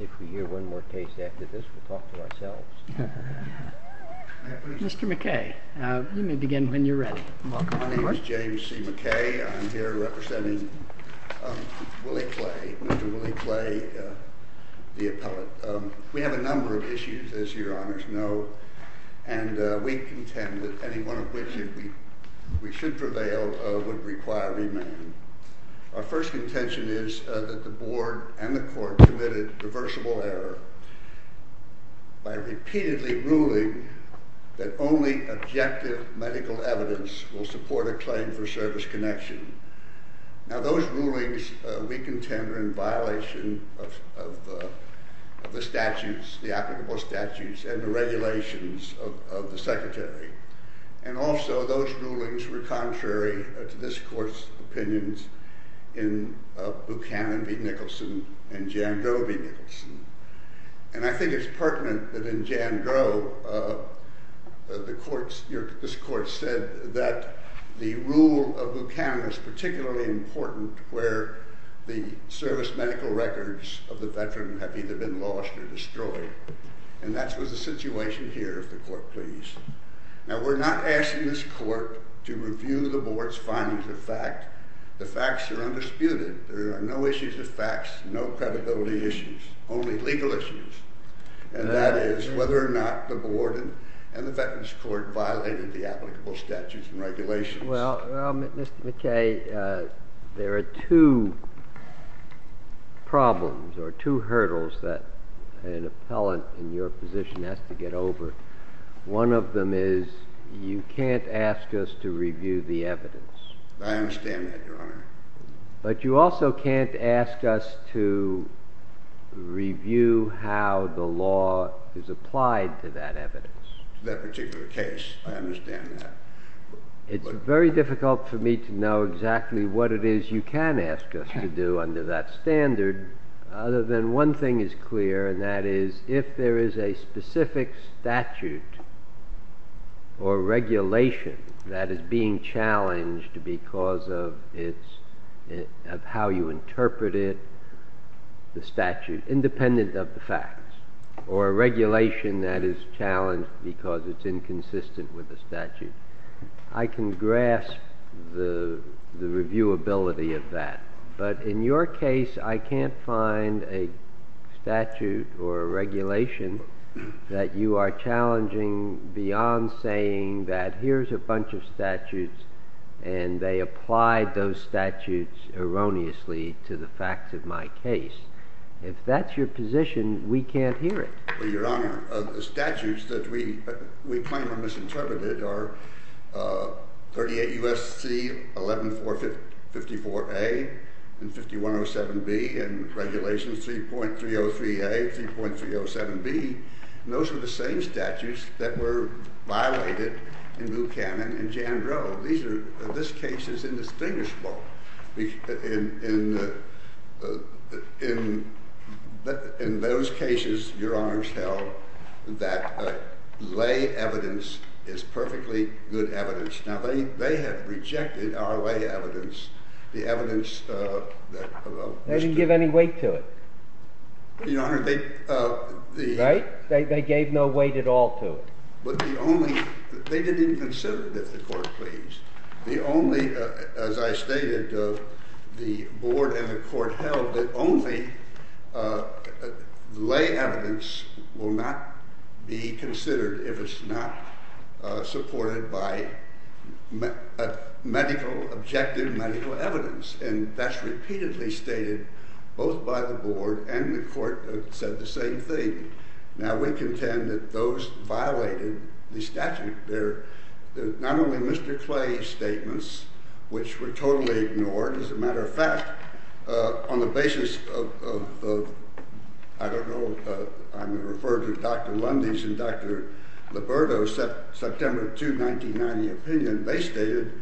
If we hear one more case after this, we'll talk to ourselves. Mr. McKay, you may begin when you're ready. My name is James C. McKay. I'm here representing Willie Clay, Mr. Willie Clay, the appellate. We have a number of issues, as your honors know, and we contend that any one of which we should prevail would require remand. Our first contention is that the board and the court committed reversible error by repeatedly ruling that only objective medical evidence will support a claim for service connection. Now those rulings we contend are in violation of the statutes, the applicable statutes, and the regulations of the secretary. And also those rulings were contrary to this court's opinions in Buchanan v. Nicholson and Jandreau v. Nicholson. And I think it's pertinent that in Jandreau, this court said that the rule of Buchanan is particularly important where the service medical records of the veteran have either been lost or destroyed. And that was the situation here, if the court please. Now we're not asking this court to review the board's findings of fact. The facts are undisputed. There are no issues of facts, no credibility issues, only legal issues. And that is whether or not the board and the veterans court violated the applicable statutes and regulations. Well, Mr. McKay, there are two problems or two hurdles that an appellant in your position has to get over. One of them is you can't ask us to review the evidence. I understand that, Your Honor. But you also can't ask us to review how the law is applied to that evidence. That particular case, I understand that. It's very difficult for me to know exactly what it is you can ask us to do under that standard. Other than one thing is clear, and that is if there is a specific statute or regulation that is being challenged because of how you interpret it, the statute, independent of the facts, or a regulation that is challenged because it's inconsistent with the statute, I can grasp the reviewability of that. But in your case, I can't find a statute or a regulation that you are challenging beyond saying that here's a bunch of statutes, and they applied those statutes erroneously to the facts of my case. If that's your position, we can't hear it. Well, Your Honor, the statutes that we claim are misinterpreted are 38 U.S.C. 11454A and 5107B and Regulations 3.303A, 3.307B. Those are the same statutes that were violated in Buchanan and Jandreau. This case is indistinguishable. In those cases, Your Honor's held that lay evidence is perfectly good evidence. Now, they have rejected our lay evidence, the evidence that was given. They didn't give any weight to it. Your Honor, they... Right? They gave no weight at all to it. But the only... They didn't even consider it if the court pleased. The only... As I stated, the board and the court held that only lay evidence will not be considered if it's not supported by medical, objective medical evidence. And that's repeatedly stated both by the board and the court said the same thing. Now, we contend that those violating the statute, they're not only Mr. Clay's statements, which were totally ignored. As a matter of fact, on the basis of, I don't know, I'm referring to Dr. Lundy's and Dr. Liberto's September 2, 1990 opinion, they stated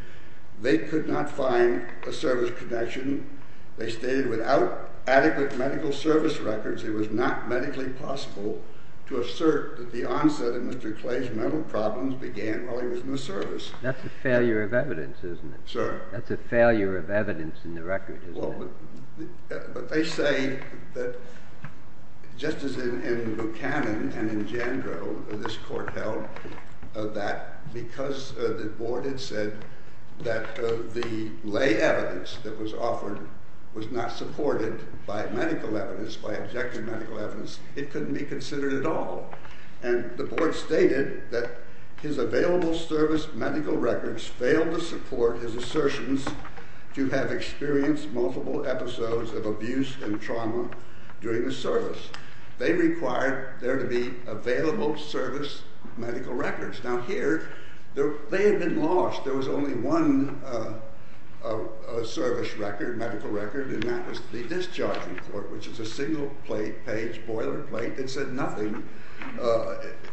they could not find a service connection. They stated without adequate medical service records, it was not medically possible to assert that the onset of Mr. Clay's mental problems began while he was in the service. That's a failure of evidence, isn't it? Sir? That's a failure of evidence in the record, isn't it? But they say that just as in Buchanan and in Jandro, this court held that because the board had said that the lay evidence that was offered was not supported by medical evidence, by objective medical evidence, it couldn't be considered at all. And the board stated that his available service medical records failed to support his assertions to have experienced multiple episodes of abuse and trauma during the service. They required there to be available service medical records. Now here, they had been lost. There was only one service record, medical record, and that was the discharging court, which is a single-page boilerplate that said nothing.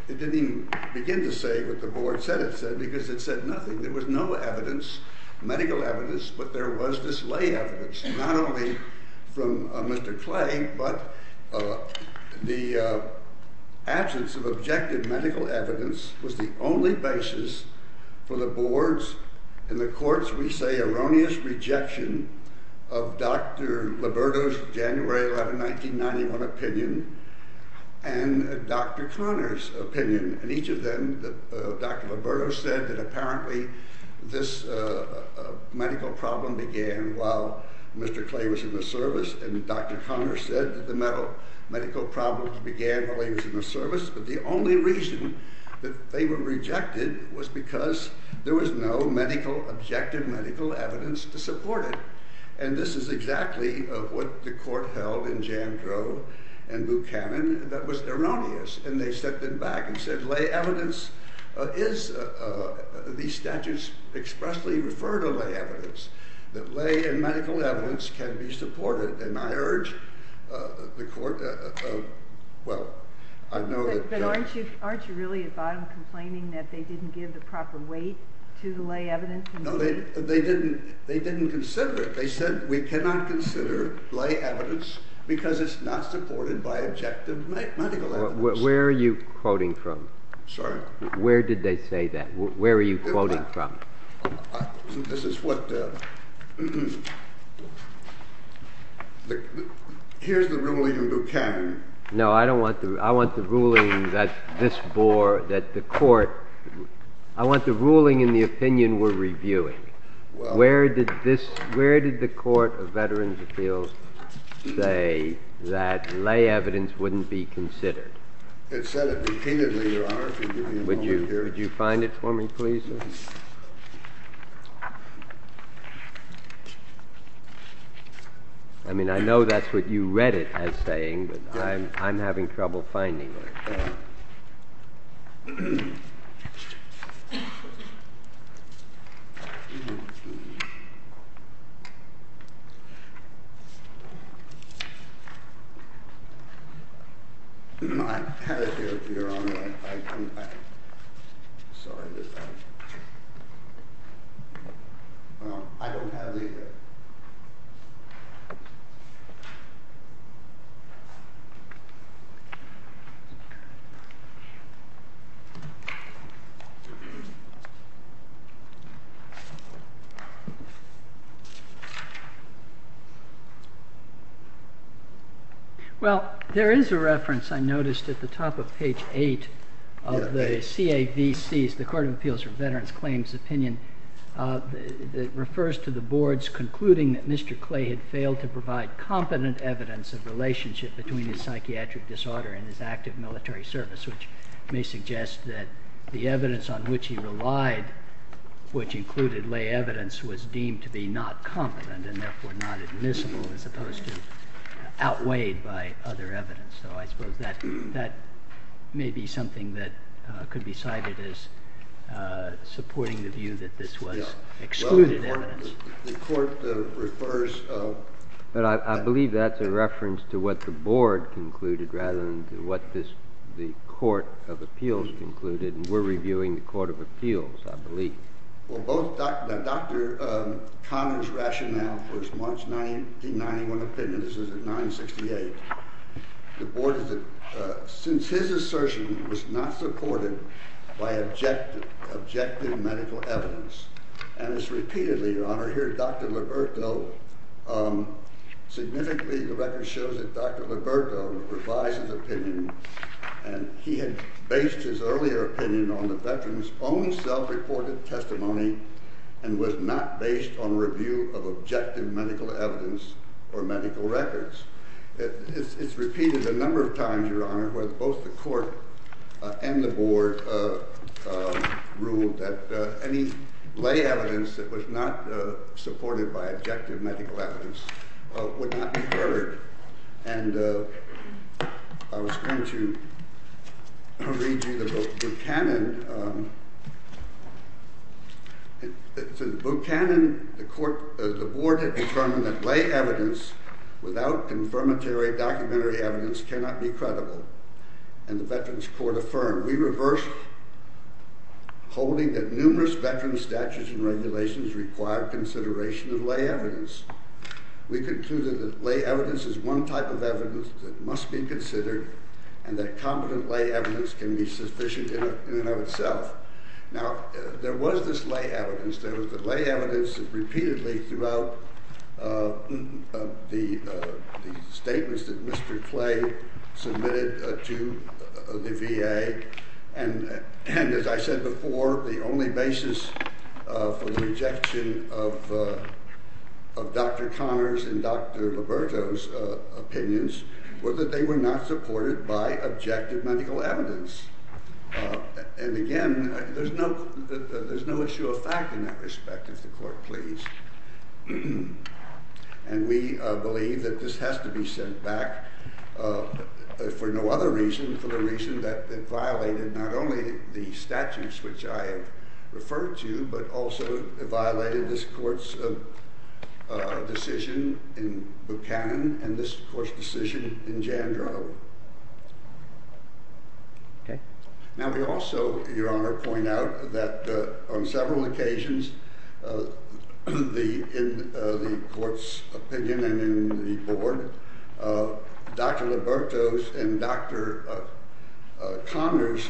It didn't even begin to say what the board said it said because it said nothing. There was no evidence, medical evidence, but there was this lay evidence, not only from Mr. Clay, but the absence of objective medical evidence was the only basis for the board's and the court's, we say, erroneous rejection of Dr. Liberto's January 11, 1991, opinion and Dr. Conner's opinion. And each of them, Dr. Liberto said that apparently this medical problem began while Mr. Clay was in the service, and Dr. Conner said that the medical problems began while he was in the service, but the only reason that they were rejected was because there was no medical, objective medical evidence to support it. And this is exactly what the court held in Jandrow and Buchanan that was erroneous, and they stepped in back and said lay evidence is, these statutes expressly refer to lay evidence, that lay and medical evidence can be supported, and I urge the court, well, I know that... But aren't you really at bottom complaining that they didn't give the proper weight to the lay evidence? No, they didn't consider it. They said we cannot consider lay evidence because it's not supported by objective medical evidence. Where are you quoting from? Sorry? Where did they say that? Where are you quoting from? This is what... Here's the ruling of Buchanan. No, I don't want the... I want the ruling that this board, that the court... I want the ruling in the opinion we're reviewing. Where did this, where did the Court of Veterans' Appeals say that lay evidence wouldn't be considered? It said it repeatedly, Your Honor. Would you find it for me, please, sir? I mean, I know that's what you read it as saying, but I'm having trouble finding it. I have it here, Your Honor. I couldn't find it. Sorry about that. Well, I don't have it either. Well, there is a reference, I noticed, at the top of page 8 of the CAVC's, the Court of Appeals for Veterans' Claims opinion, that refers to the board's concluding that Mr. Clay had failed to provide competent evidence of relationship between his psychiatric disorder and his active military service, which may suggest that the evidence on which he relied, which included lay evidence, was deemed to be not competent and therefore not admissible, as opposed to outweighed by other evidence. So I suppose that may be something that could be cited as supporting the view that this was excluded evidence. Yeah. Well, the Court refers to... But I believe that's a reference to what the board concluded rather than to what the Court of Appeals concluded, and we're reviewing the Court of Appeals, I believe. Well, both Dr. Conner's rationale for his March 1991 opinion, this is at 968, the board is that since his assertion was not supported by objective medical evidence, and it's repeatedly, Your Honor, here Dr. Liberto, significantly the record shows that Dr. Liberto revised his opinion, and he had based his earlier opinion on the veterans' own self-reported testimony, and was not based on review of objective medical evidence or medical records. It's repeated a number of times, Your Honor, where both the court and the board ruled that any lay evidence that was not supported by objective medical evidence would not be heard. And I was going to read you the book, Buchanan. In Buchanan, the board had determined that lay evidence without confirmatory documentary evidence cannot be credible, and the Veterans Court affirmed. We reversed, holding that numerous veteran statutes and regulations require consideration of lay evidence. We concluded that lay evidence is one type of evidence that must be considered, and that competent lay evidence can be sufficient in and of itself. Now, there was this lay evidence. There was the lay evidence that repeatedly throughout the statements that Mr. Clay submitted to the VA, and as I said before, the only basis for the rejection of Dr. Connors and Dr. Liberto's opinions was that they were not supported by objective medical evidence. And again, there's no issue of fact in that respect, if the court please. And we believe that this has to be sent back for no other reason than for the reason that it violated not only the statutes which I have referred to, but also it violated this court's decision in Buchanan and this court's decision in Jandro. Now, we also, Your Honor, point out that on several occasions in the court's opinion and in the board, Dr. Liberto's and Dr. Connors'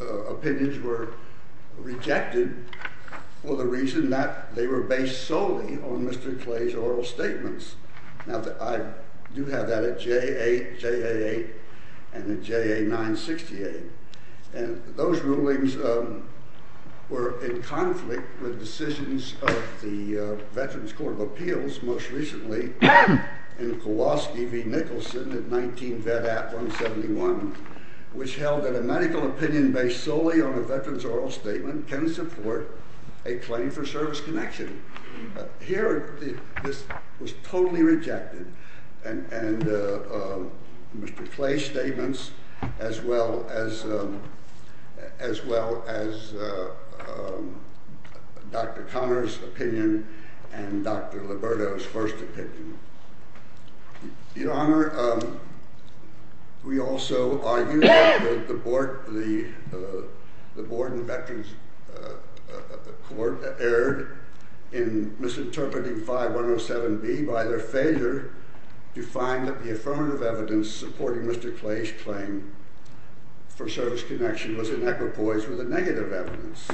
opinions were rejected for the reason that they were based solely on Mr. Clay's oral statements. Now, I do have that at JA, JA 8, and at JA 968, and those rulings were in conflict with decisions of the Veterans Court of Appeals most recently in Kowalski v. Nicholson at 19 Vedat 171, which held that a medical opinion based solely on a veteran's oral statement can support a claim for service connection. Here, this was totally rejected, and Mr. Clay's statements as well as Dr. Connors' opinion and Dr. Liberto's first opinion. Your Honor, we also argue that the board in the Veterans Court erred in misinterpreting 5107B by their failure to find that the affirmative evidence supporting Mr. Clay's claim for service connection was inequipoise with the negative evidence,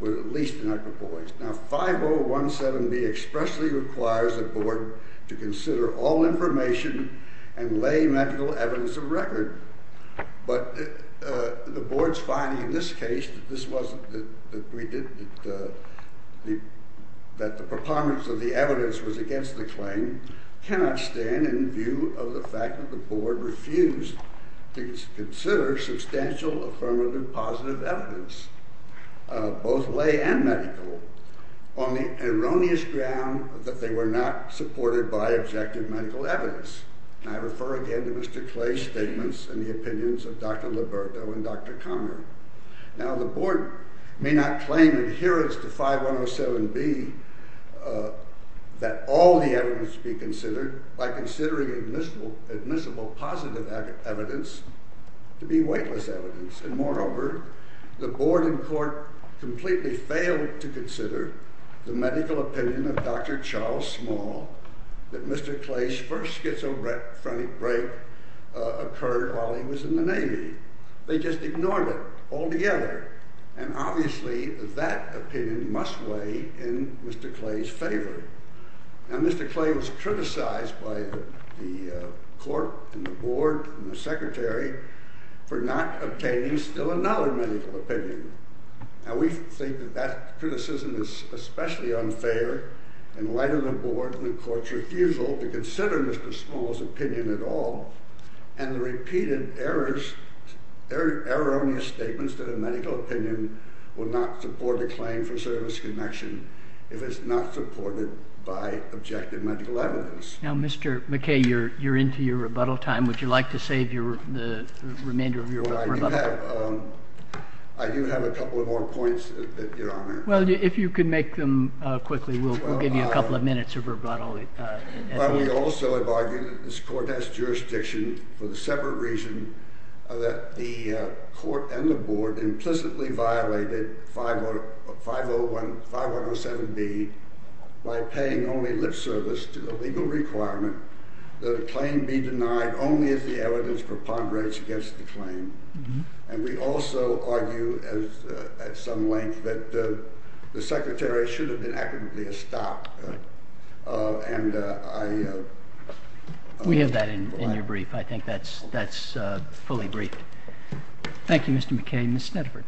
or at least inequipoise. Now, 5017B expressly requires the board to consider all information and lay medical evidence of record, but the board's finding in this case that the preponderance of the evidence was against the claim cannot stand in view of the fact that the board refused to consider substantial affirmative positive evidence, both lay and medical. On the erroneous ground that they were not supported by objective medical evidence, I refer again to Mr. Clay's statements and the opinions of Dr. Liberto and Dr. Conner. Now, the board may not claim adherence to 5107B that all the evidence be considered by considering admissible positive evidence to be weightless evidence, and moreover, the board in court completely failed to consider the medical opinion of Dr. Charles Small that Mr. Clay's first schizophrenic break occurred while he was in the Navy. They just ignored it altogether, and obviously that opinion must weigh in Mr. Clay's favor. Now, Mr. Clay was criticized by the court and the board and the secretary for not obtaining still another medical opinion. Now, we think that that criticism is especially unfair in light of the board and the court's refusal to consider Mr. Small's opinion at all, and the repeated erroneous statements that a medical opinion would not support a claim for service connection if it's not supported by objective medical evidence. Now, Mr. McKay, you're into your rebuttal time. Would you like to save the remainder of your rebuttal time? I do have a couple of more points, Your Honor. Well, if you could make them quickly, we'll give you a couple of minutes of rebuttal. We also have argued that this court has jurisdiction for the separate reason that the court and the board implicitly violated 5107B by paying only lip service to the legal requirement that a claim be denied only if the evidence preponderates against the claim. And we also argue at some length that the secretary should have been adequately stopped. We have that in your brief. I think that's fully briefed. Thank you, Mr. McKay. Ms. Snedford.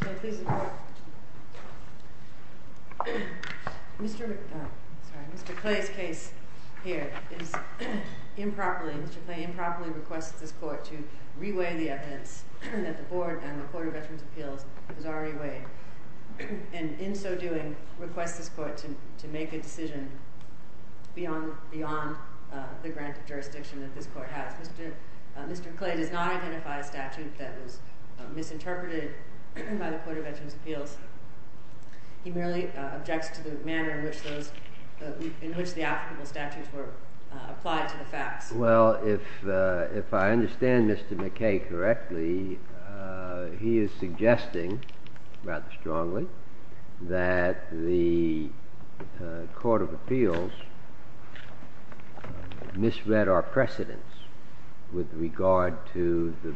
Ms. Snedford. Thank you. Mr. Clay's case here improperly requests this court to reweigh the evidence that the board and the Court of Veterans' Appeals has already weighed, and in so doing, requests this court to make a decision beyond the grant of jurisdiction that this court has. Mr. Clay does not identify a statute that was misinterpreted by the Court of Veterans' Appeals. He merely objects to the manner in which the applicable statutes were applied to the facts. Well, if I understand Mr. McKay correctly, he is suggesting rather strongly that the Court of Appeals misread our precedents with regard to the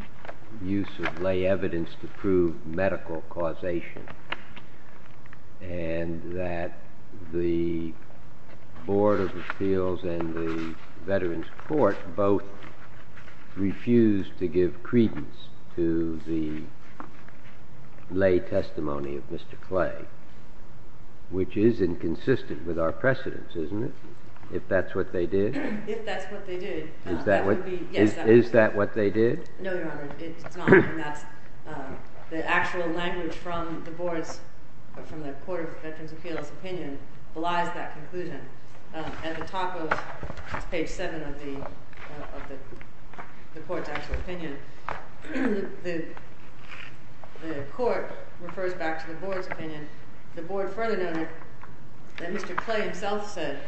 use of lay evidence to prove medical causation and that the Board of Appeals and the Veterans' Court both refused to give credence to the lay testimony of Mr. Clay, which is inconsistent with our precedents, isn't it, if that's what they did? If that's what they did, no. Is that what they did? No, Your Honor. It's not. And that's the actual language from the board's, from the Court of Veterans' Appeals' opinion belies that conclusion. At the top of page 7 of the court's actual opinion, the court refers back to the board's opinion. And the board further noted that Mr. Clay himself said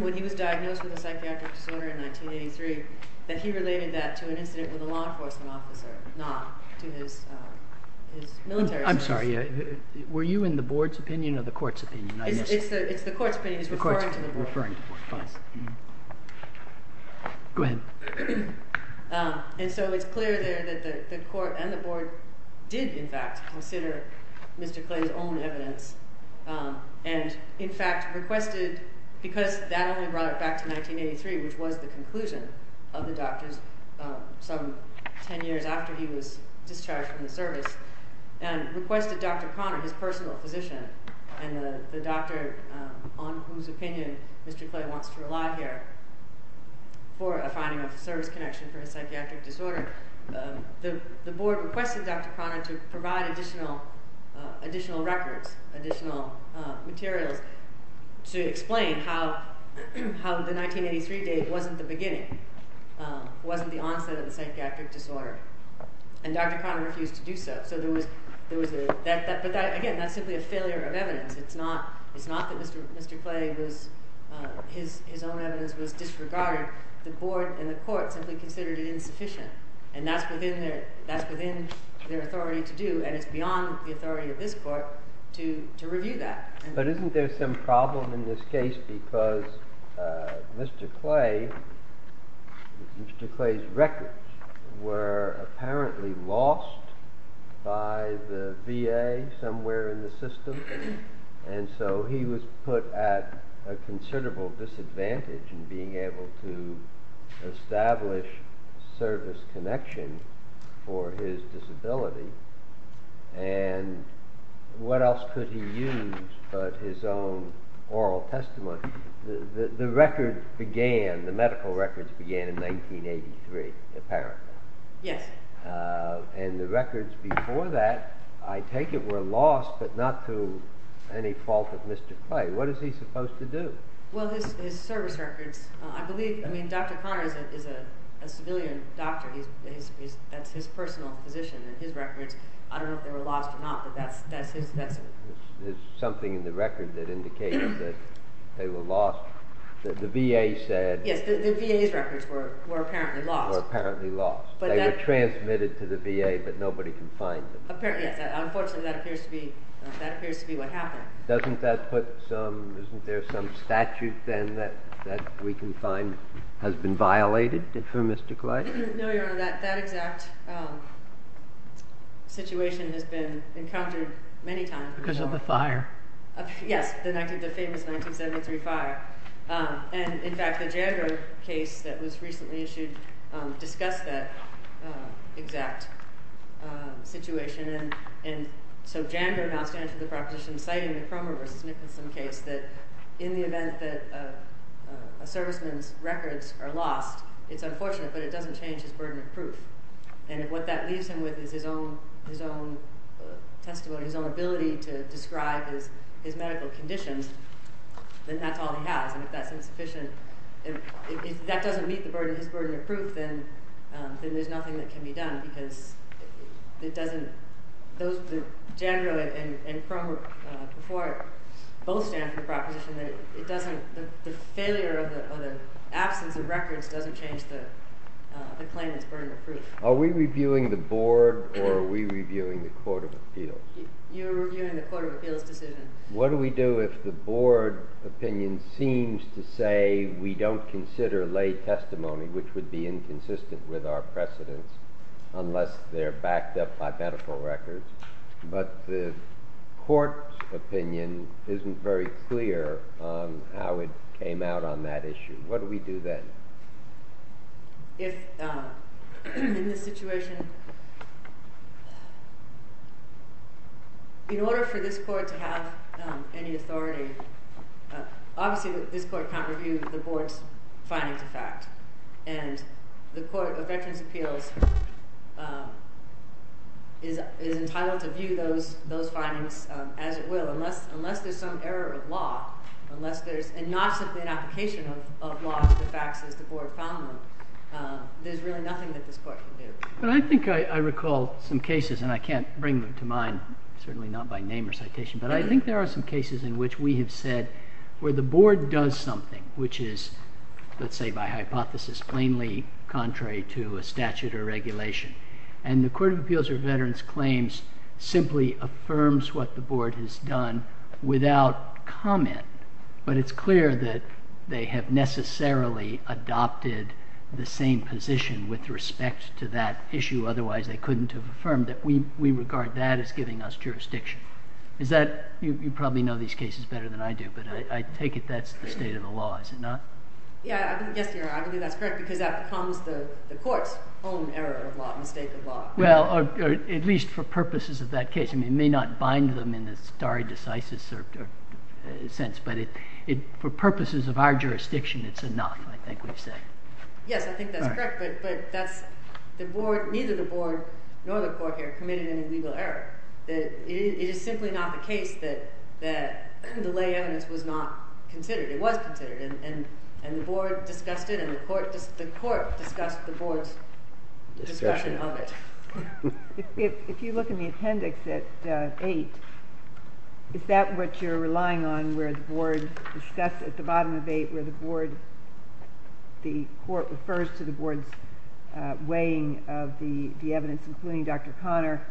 when he was diagnosed with a psychiatric disorder in 1983 that he related that to an incident with a law enforcement officer, not to his military service. I'm sorry. Were you in the board's opinion or the court's opinion? It's the court's opinion. He's referring to the board. Referring to the board. Yes. Go ahead. And so it's clear there that the court and the board did, in fact, consider Mr. Clay's own evidence and, in fact, requested, because that only brought it back to 1983, which was the conclusion of the doctor's, some 10 years after he was discharged from the service, and requested Dr. Conner, his personal physician, and the doctor on whose opinion Mr. Clay wants to rely here, for a finding of a service connection for a psychiatric disorder. The board requested Dr. Conner to provide additional records, additional materials, to explain how the 1983 date wasn't the beginning, wasn't the onset of the psychiatric disorder. And Dr. Conner refused to do so. But, again, that's simply a failure of evidence. It's not that Mr. Clay, his own evidence was disregarded. The board and the court simply considered it insufficient. And that's within their authority to do. And it's beyond the authority of this court to review that. But isn't there some problem in this case because Mr. Clay, Mr. Clay's records were apparently lost by the VA somewhere in the system. And so he was put at a considerable disadvantage in being able to establish service connection for his disability. And what else could he use but his own oral testimony? The records began, the medical records began in 1983, apparently. Yes. And the records before that, I take it, were lost, but not to any fault of Mr. Clay. What is he supposed to do? Well, his service records, I believe, I mean, Dr. Conner is a civilian doctor. That's his personal position. And his records, I don't know if they were lost or not, but that's his. There's something in the record that indicates that they were lost. The VA said. Yes, the VA's records were apparently lost. Were apparently lost. They were transmitted to the VA, but nobody can find them. Apparently, yes. Unfortunately, that appears to be what happened. Doesn't that put some, isn't there some statute then that we can find has been violated for Mr. Clay? No, Your Honor, that exact situation has been encountered many times. Because of the fire. Yes, the famous 1973 fire. And, in fact, the Jander case that was recently issued discussed that exact situation. And so Jander now stands for the proposition citing the Cromer v. Nicholson case that in the event that a serviceman's records are lost, it's unfortunate, but it doesn't change his burden of proof. And if what that leaves him with is his own testimony, his own ability to describe his medical conditions, then that's all he has. And if that's insufficient, if that doesn't meet the burden, his burden of proof, then there's nothing that can be done. Because it doesn't, those, Jander and Cromer before both stand for the proposition that it doesn't, the failure of the absence of records doesn't change the claimant's burden of proof. Are we reviewing the Board or are we reviewing the Court of Appeals? What do we do if the Board opinion seems to say we don't consider lay testimony, which would be inconsistent with our precedents unless they're backed up by medical records, but the Court's opinion isn't very clear on how it came out on that issue? What do we do then? If in this situation, in order for this Court to have any authority, obviously this Court can't review the Board's findings of fact. And the Court of Veterans' Appeals is entitled to view those findings as it will, so unless there's some error of law, and not simply an application of law to the facts as the Board found them, there's really nothing that this Court can do. But I think I recall some cases, and I can't bring them to mind, certainly not by name or citation, but I think there are some cases in which we have said where the Board does something, which is, let's say by hypothesis, plainly contrary to a statute or regulation, and the Court of Appeals or Veterans' Claims simply affirms what the Board has done without comment, but it's clear that they have necessarily adopted the same position with respect to that issue, otherwise they couldn't have affirmed it. We regard that as giving us jurisdiction. You probably know these cases better than I do, but I take it that's the state of the law, is it not? Yes, Your Honor, I think that's correct, because that becomes the Court's own error of law, mistake of law. Well, at least for purposes of that case. It may not bind them in the stare decisis sense, but for purposes of our jurisdiction, it's enough, I think we say. Yes, I think that's correct, but neither the Board nor the Court here committed any legal error. It is simply not the case that the lay evidence was not considered. And the Board discussed it, and the Court discussed the Board's discussion of it. If you look in the appendix at 8, is that what you're relying on, where the Board discusses at the bottom of 8, where the Court refers to the Board's weighing of the evidence, including Dr. Conner,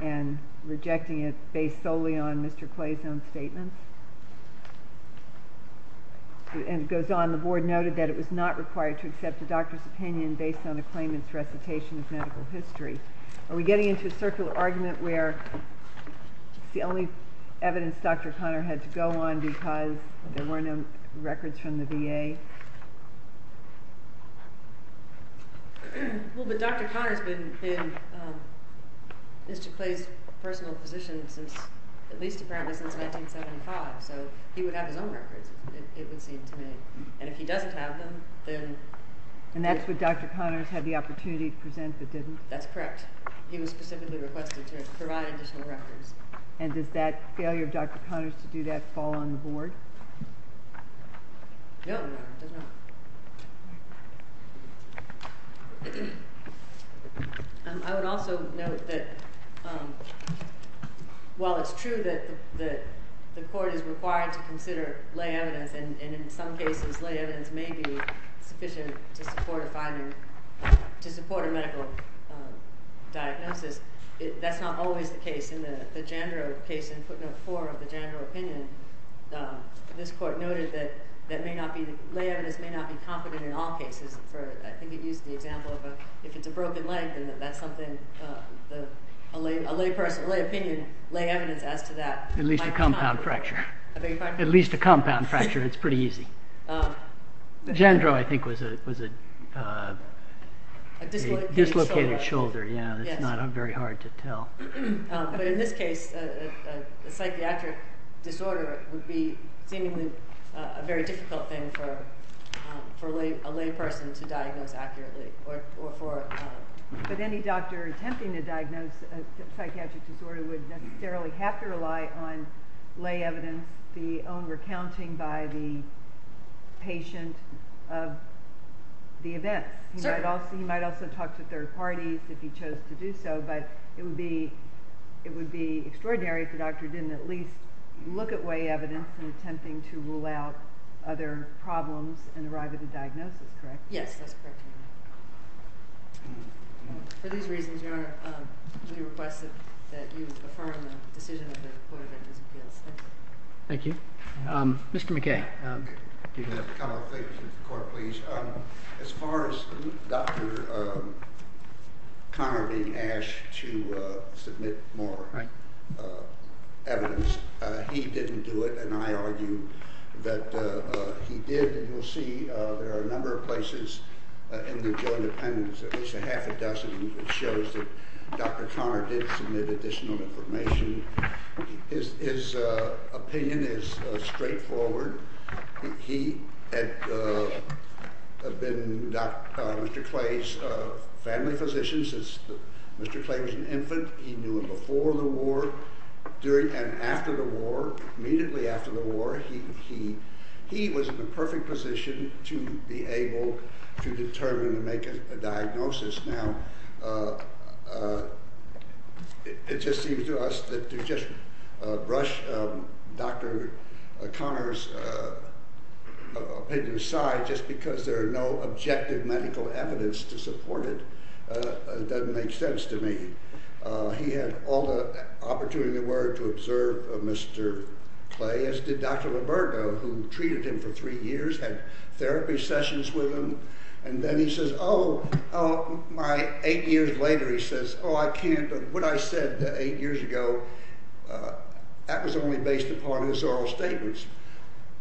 and rejecting it based solely on Mr. Clay's own statement? And it goes on, the Board noted that it was not required to accept the doctor's opinion based on a claimant's recitation of medical history. Are we getting into a circular argument where it's the only evidence Dr. Conner had to go on because there were no records from the VA? Well, but Dr. Conner's been in Mr. Clay's personal position since, at least apparently since 1975, so he would have his own records, it would seem to me. And if he doesn't have them, then... And that's what Dr. Conner had the opportunity to present, but didn't? That's correct. He was specifically requested to provide additional records. And does that failure of Dr. Conner's to do that fall on the Board? No, it does not. I would also note that while it's true that the Court is required to consider lay evidence, and in some cases lay evidence may be sufficient to support a finding, to support a medical diagnosis, that's not always the case. In the Jandro case in footnote 4 of the Jandro opinion, this Court noted that lay evidence may not be competent in all cases. I think it used the example of if it's a broken leg, then that's something a lay person, a lay opinion, lay evidence as to that. At least a compound fracture. At least a compound fracture, it's pretty easy. Jandro, I think, was a dislocated shoulder. Yeah, it's not very hard to tell. But in this case, a psychiatric disorder would be seemingly a very difficult thing for a lay person to diagnose accurately. But any doctor attempting to diagnose a psychiatric disorder would necessarily have to rely on lay evidence, the own recounting by the patient of the event. He might also talk to third parties if he chose to do so, but it would be extraordinary if the doctor didn't at least look at lay evidence in attempting to rule out other problems and arrive at a diagnosis, correct? Yes, that's correct. For these reasons, Your Honor, we request that you affirm the decision of the Court of Education Appeals. Thank you. Thank you. Mr. McKay. Mr. Connell, thank you. Court, please. As far as Dr. Conner being asked to submit more evidence, he didn't do it. And I argue that he did. And you'll see there are a number of places in the Joint Appendix, at least a half a dozen, which shows that Dr. Conner did submit additional information. His opinion is straightforward. He had been Mr. Clay's family physician since Mr. Clay was an infant. He knew him before the war and after the war, immediately after the war. He was in the perfect position to be able to determine and make a diagnosis. Now, it just seems to us that to just brush Dr. Conner's opinion aside, just because there are no objective medical evidence to support it, doesn't make sense to me. He had all the opportunity there were to observe Mr. Clay, as did Dr. LaBerga, who treated him for three years, had therapy sessions with him. And then he says, oh, my eight years later, he says, oh, I can't. What I said eight years ago, that was only based upon his oral statements.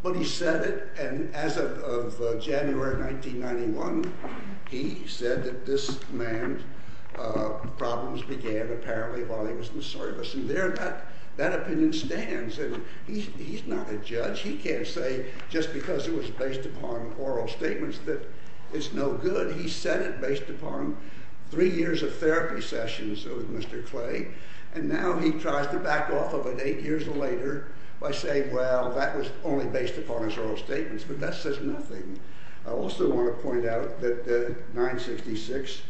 But he said it, and as of January 1991, he said that this man's problems began, apparently, while he was in the service. And there that opinion stands. And he's not a judge. He can't say just because it was based upon oral statements that it's no good. He said it based upon three years of therapy sessions with Mr. Clay, and now he tries to back off of it eight years later by saying, well, that was only based upon his oral statements. But that says nothing. I also want to point out that 966,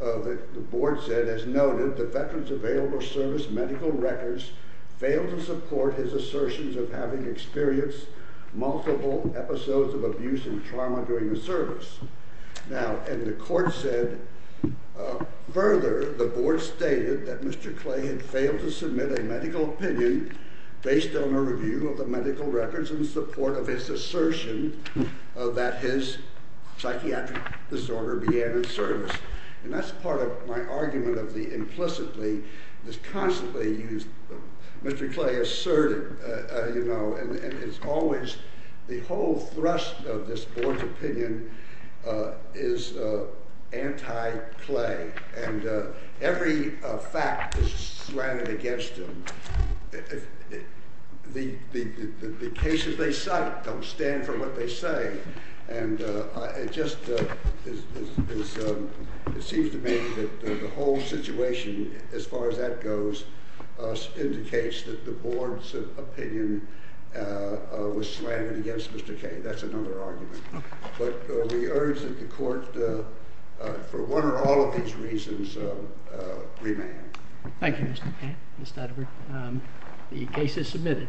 the board said, as noted, the Veterans Available Service medical records failed to support his assertions of having experienced multiple episodes of abuse and trauma during the service. Now, and the court said, further, the board stated that Mr. Clay had failed to submit a medical opinion based on a review of the medical records in support of his assertion that his psychiatric disorder began in service. And that's part of my argument of the implicitly, this constantly used, Mr. Clay asserted, you know, and it's always the whole thrust of this board's opinion is anti-Clay. And every fact is slanted against him. The cases they cite don't stand for what they say. And it just seems to me that the whole situation, as far as that goes, indicates that the board's opinion was slanted against Mr. Clay. That's another argument. But we urge that the court, for one or all of these reasons, remain. Thank you, Mr. Clay. The case is submitted. All rise.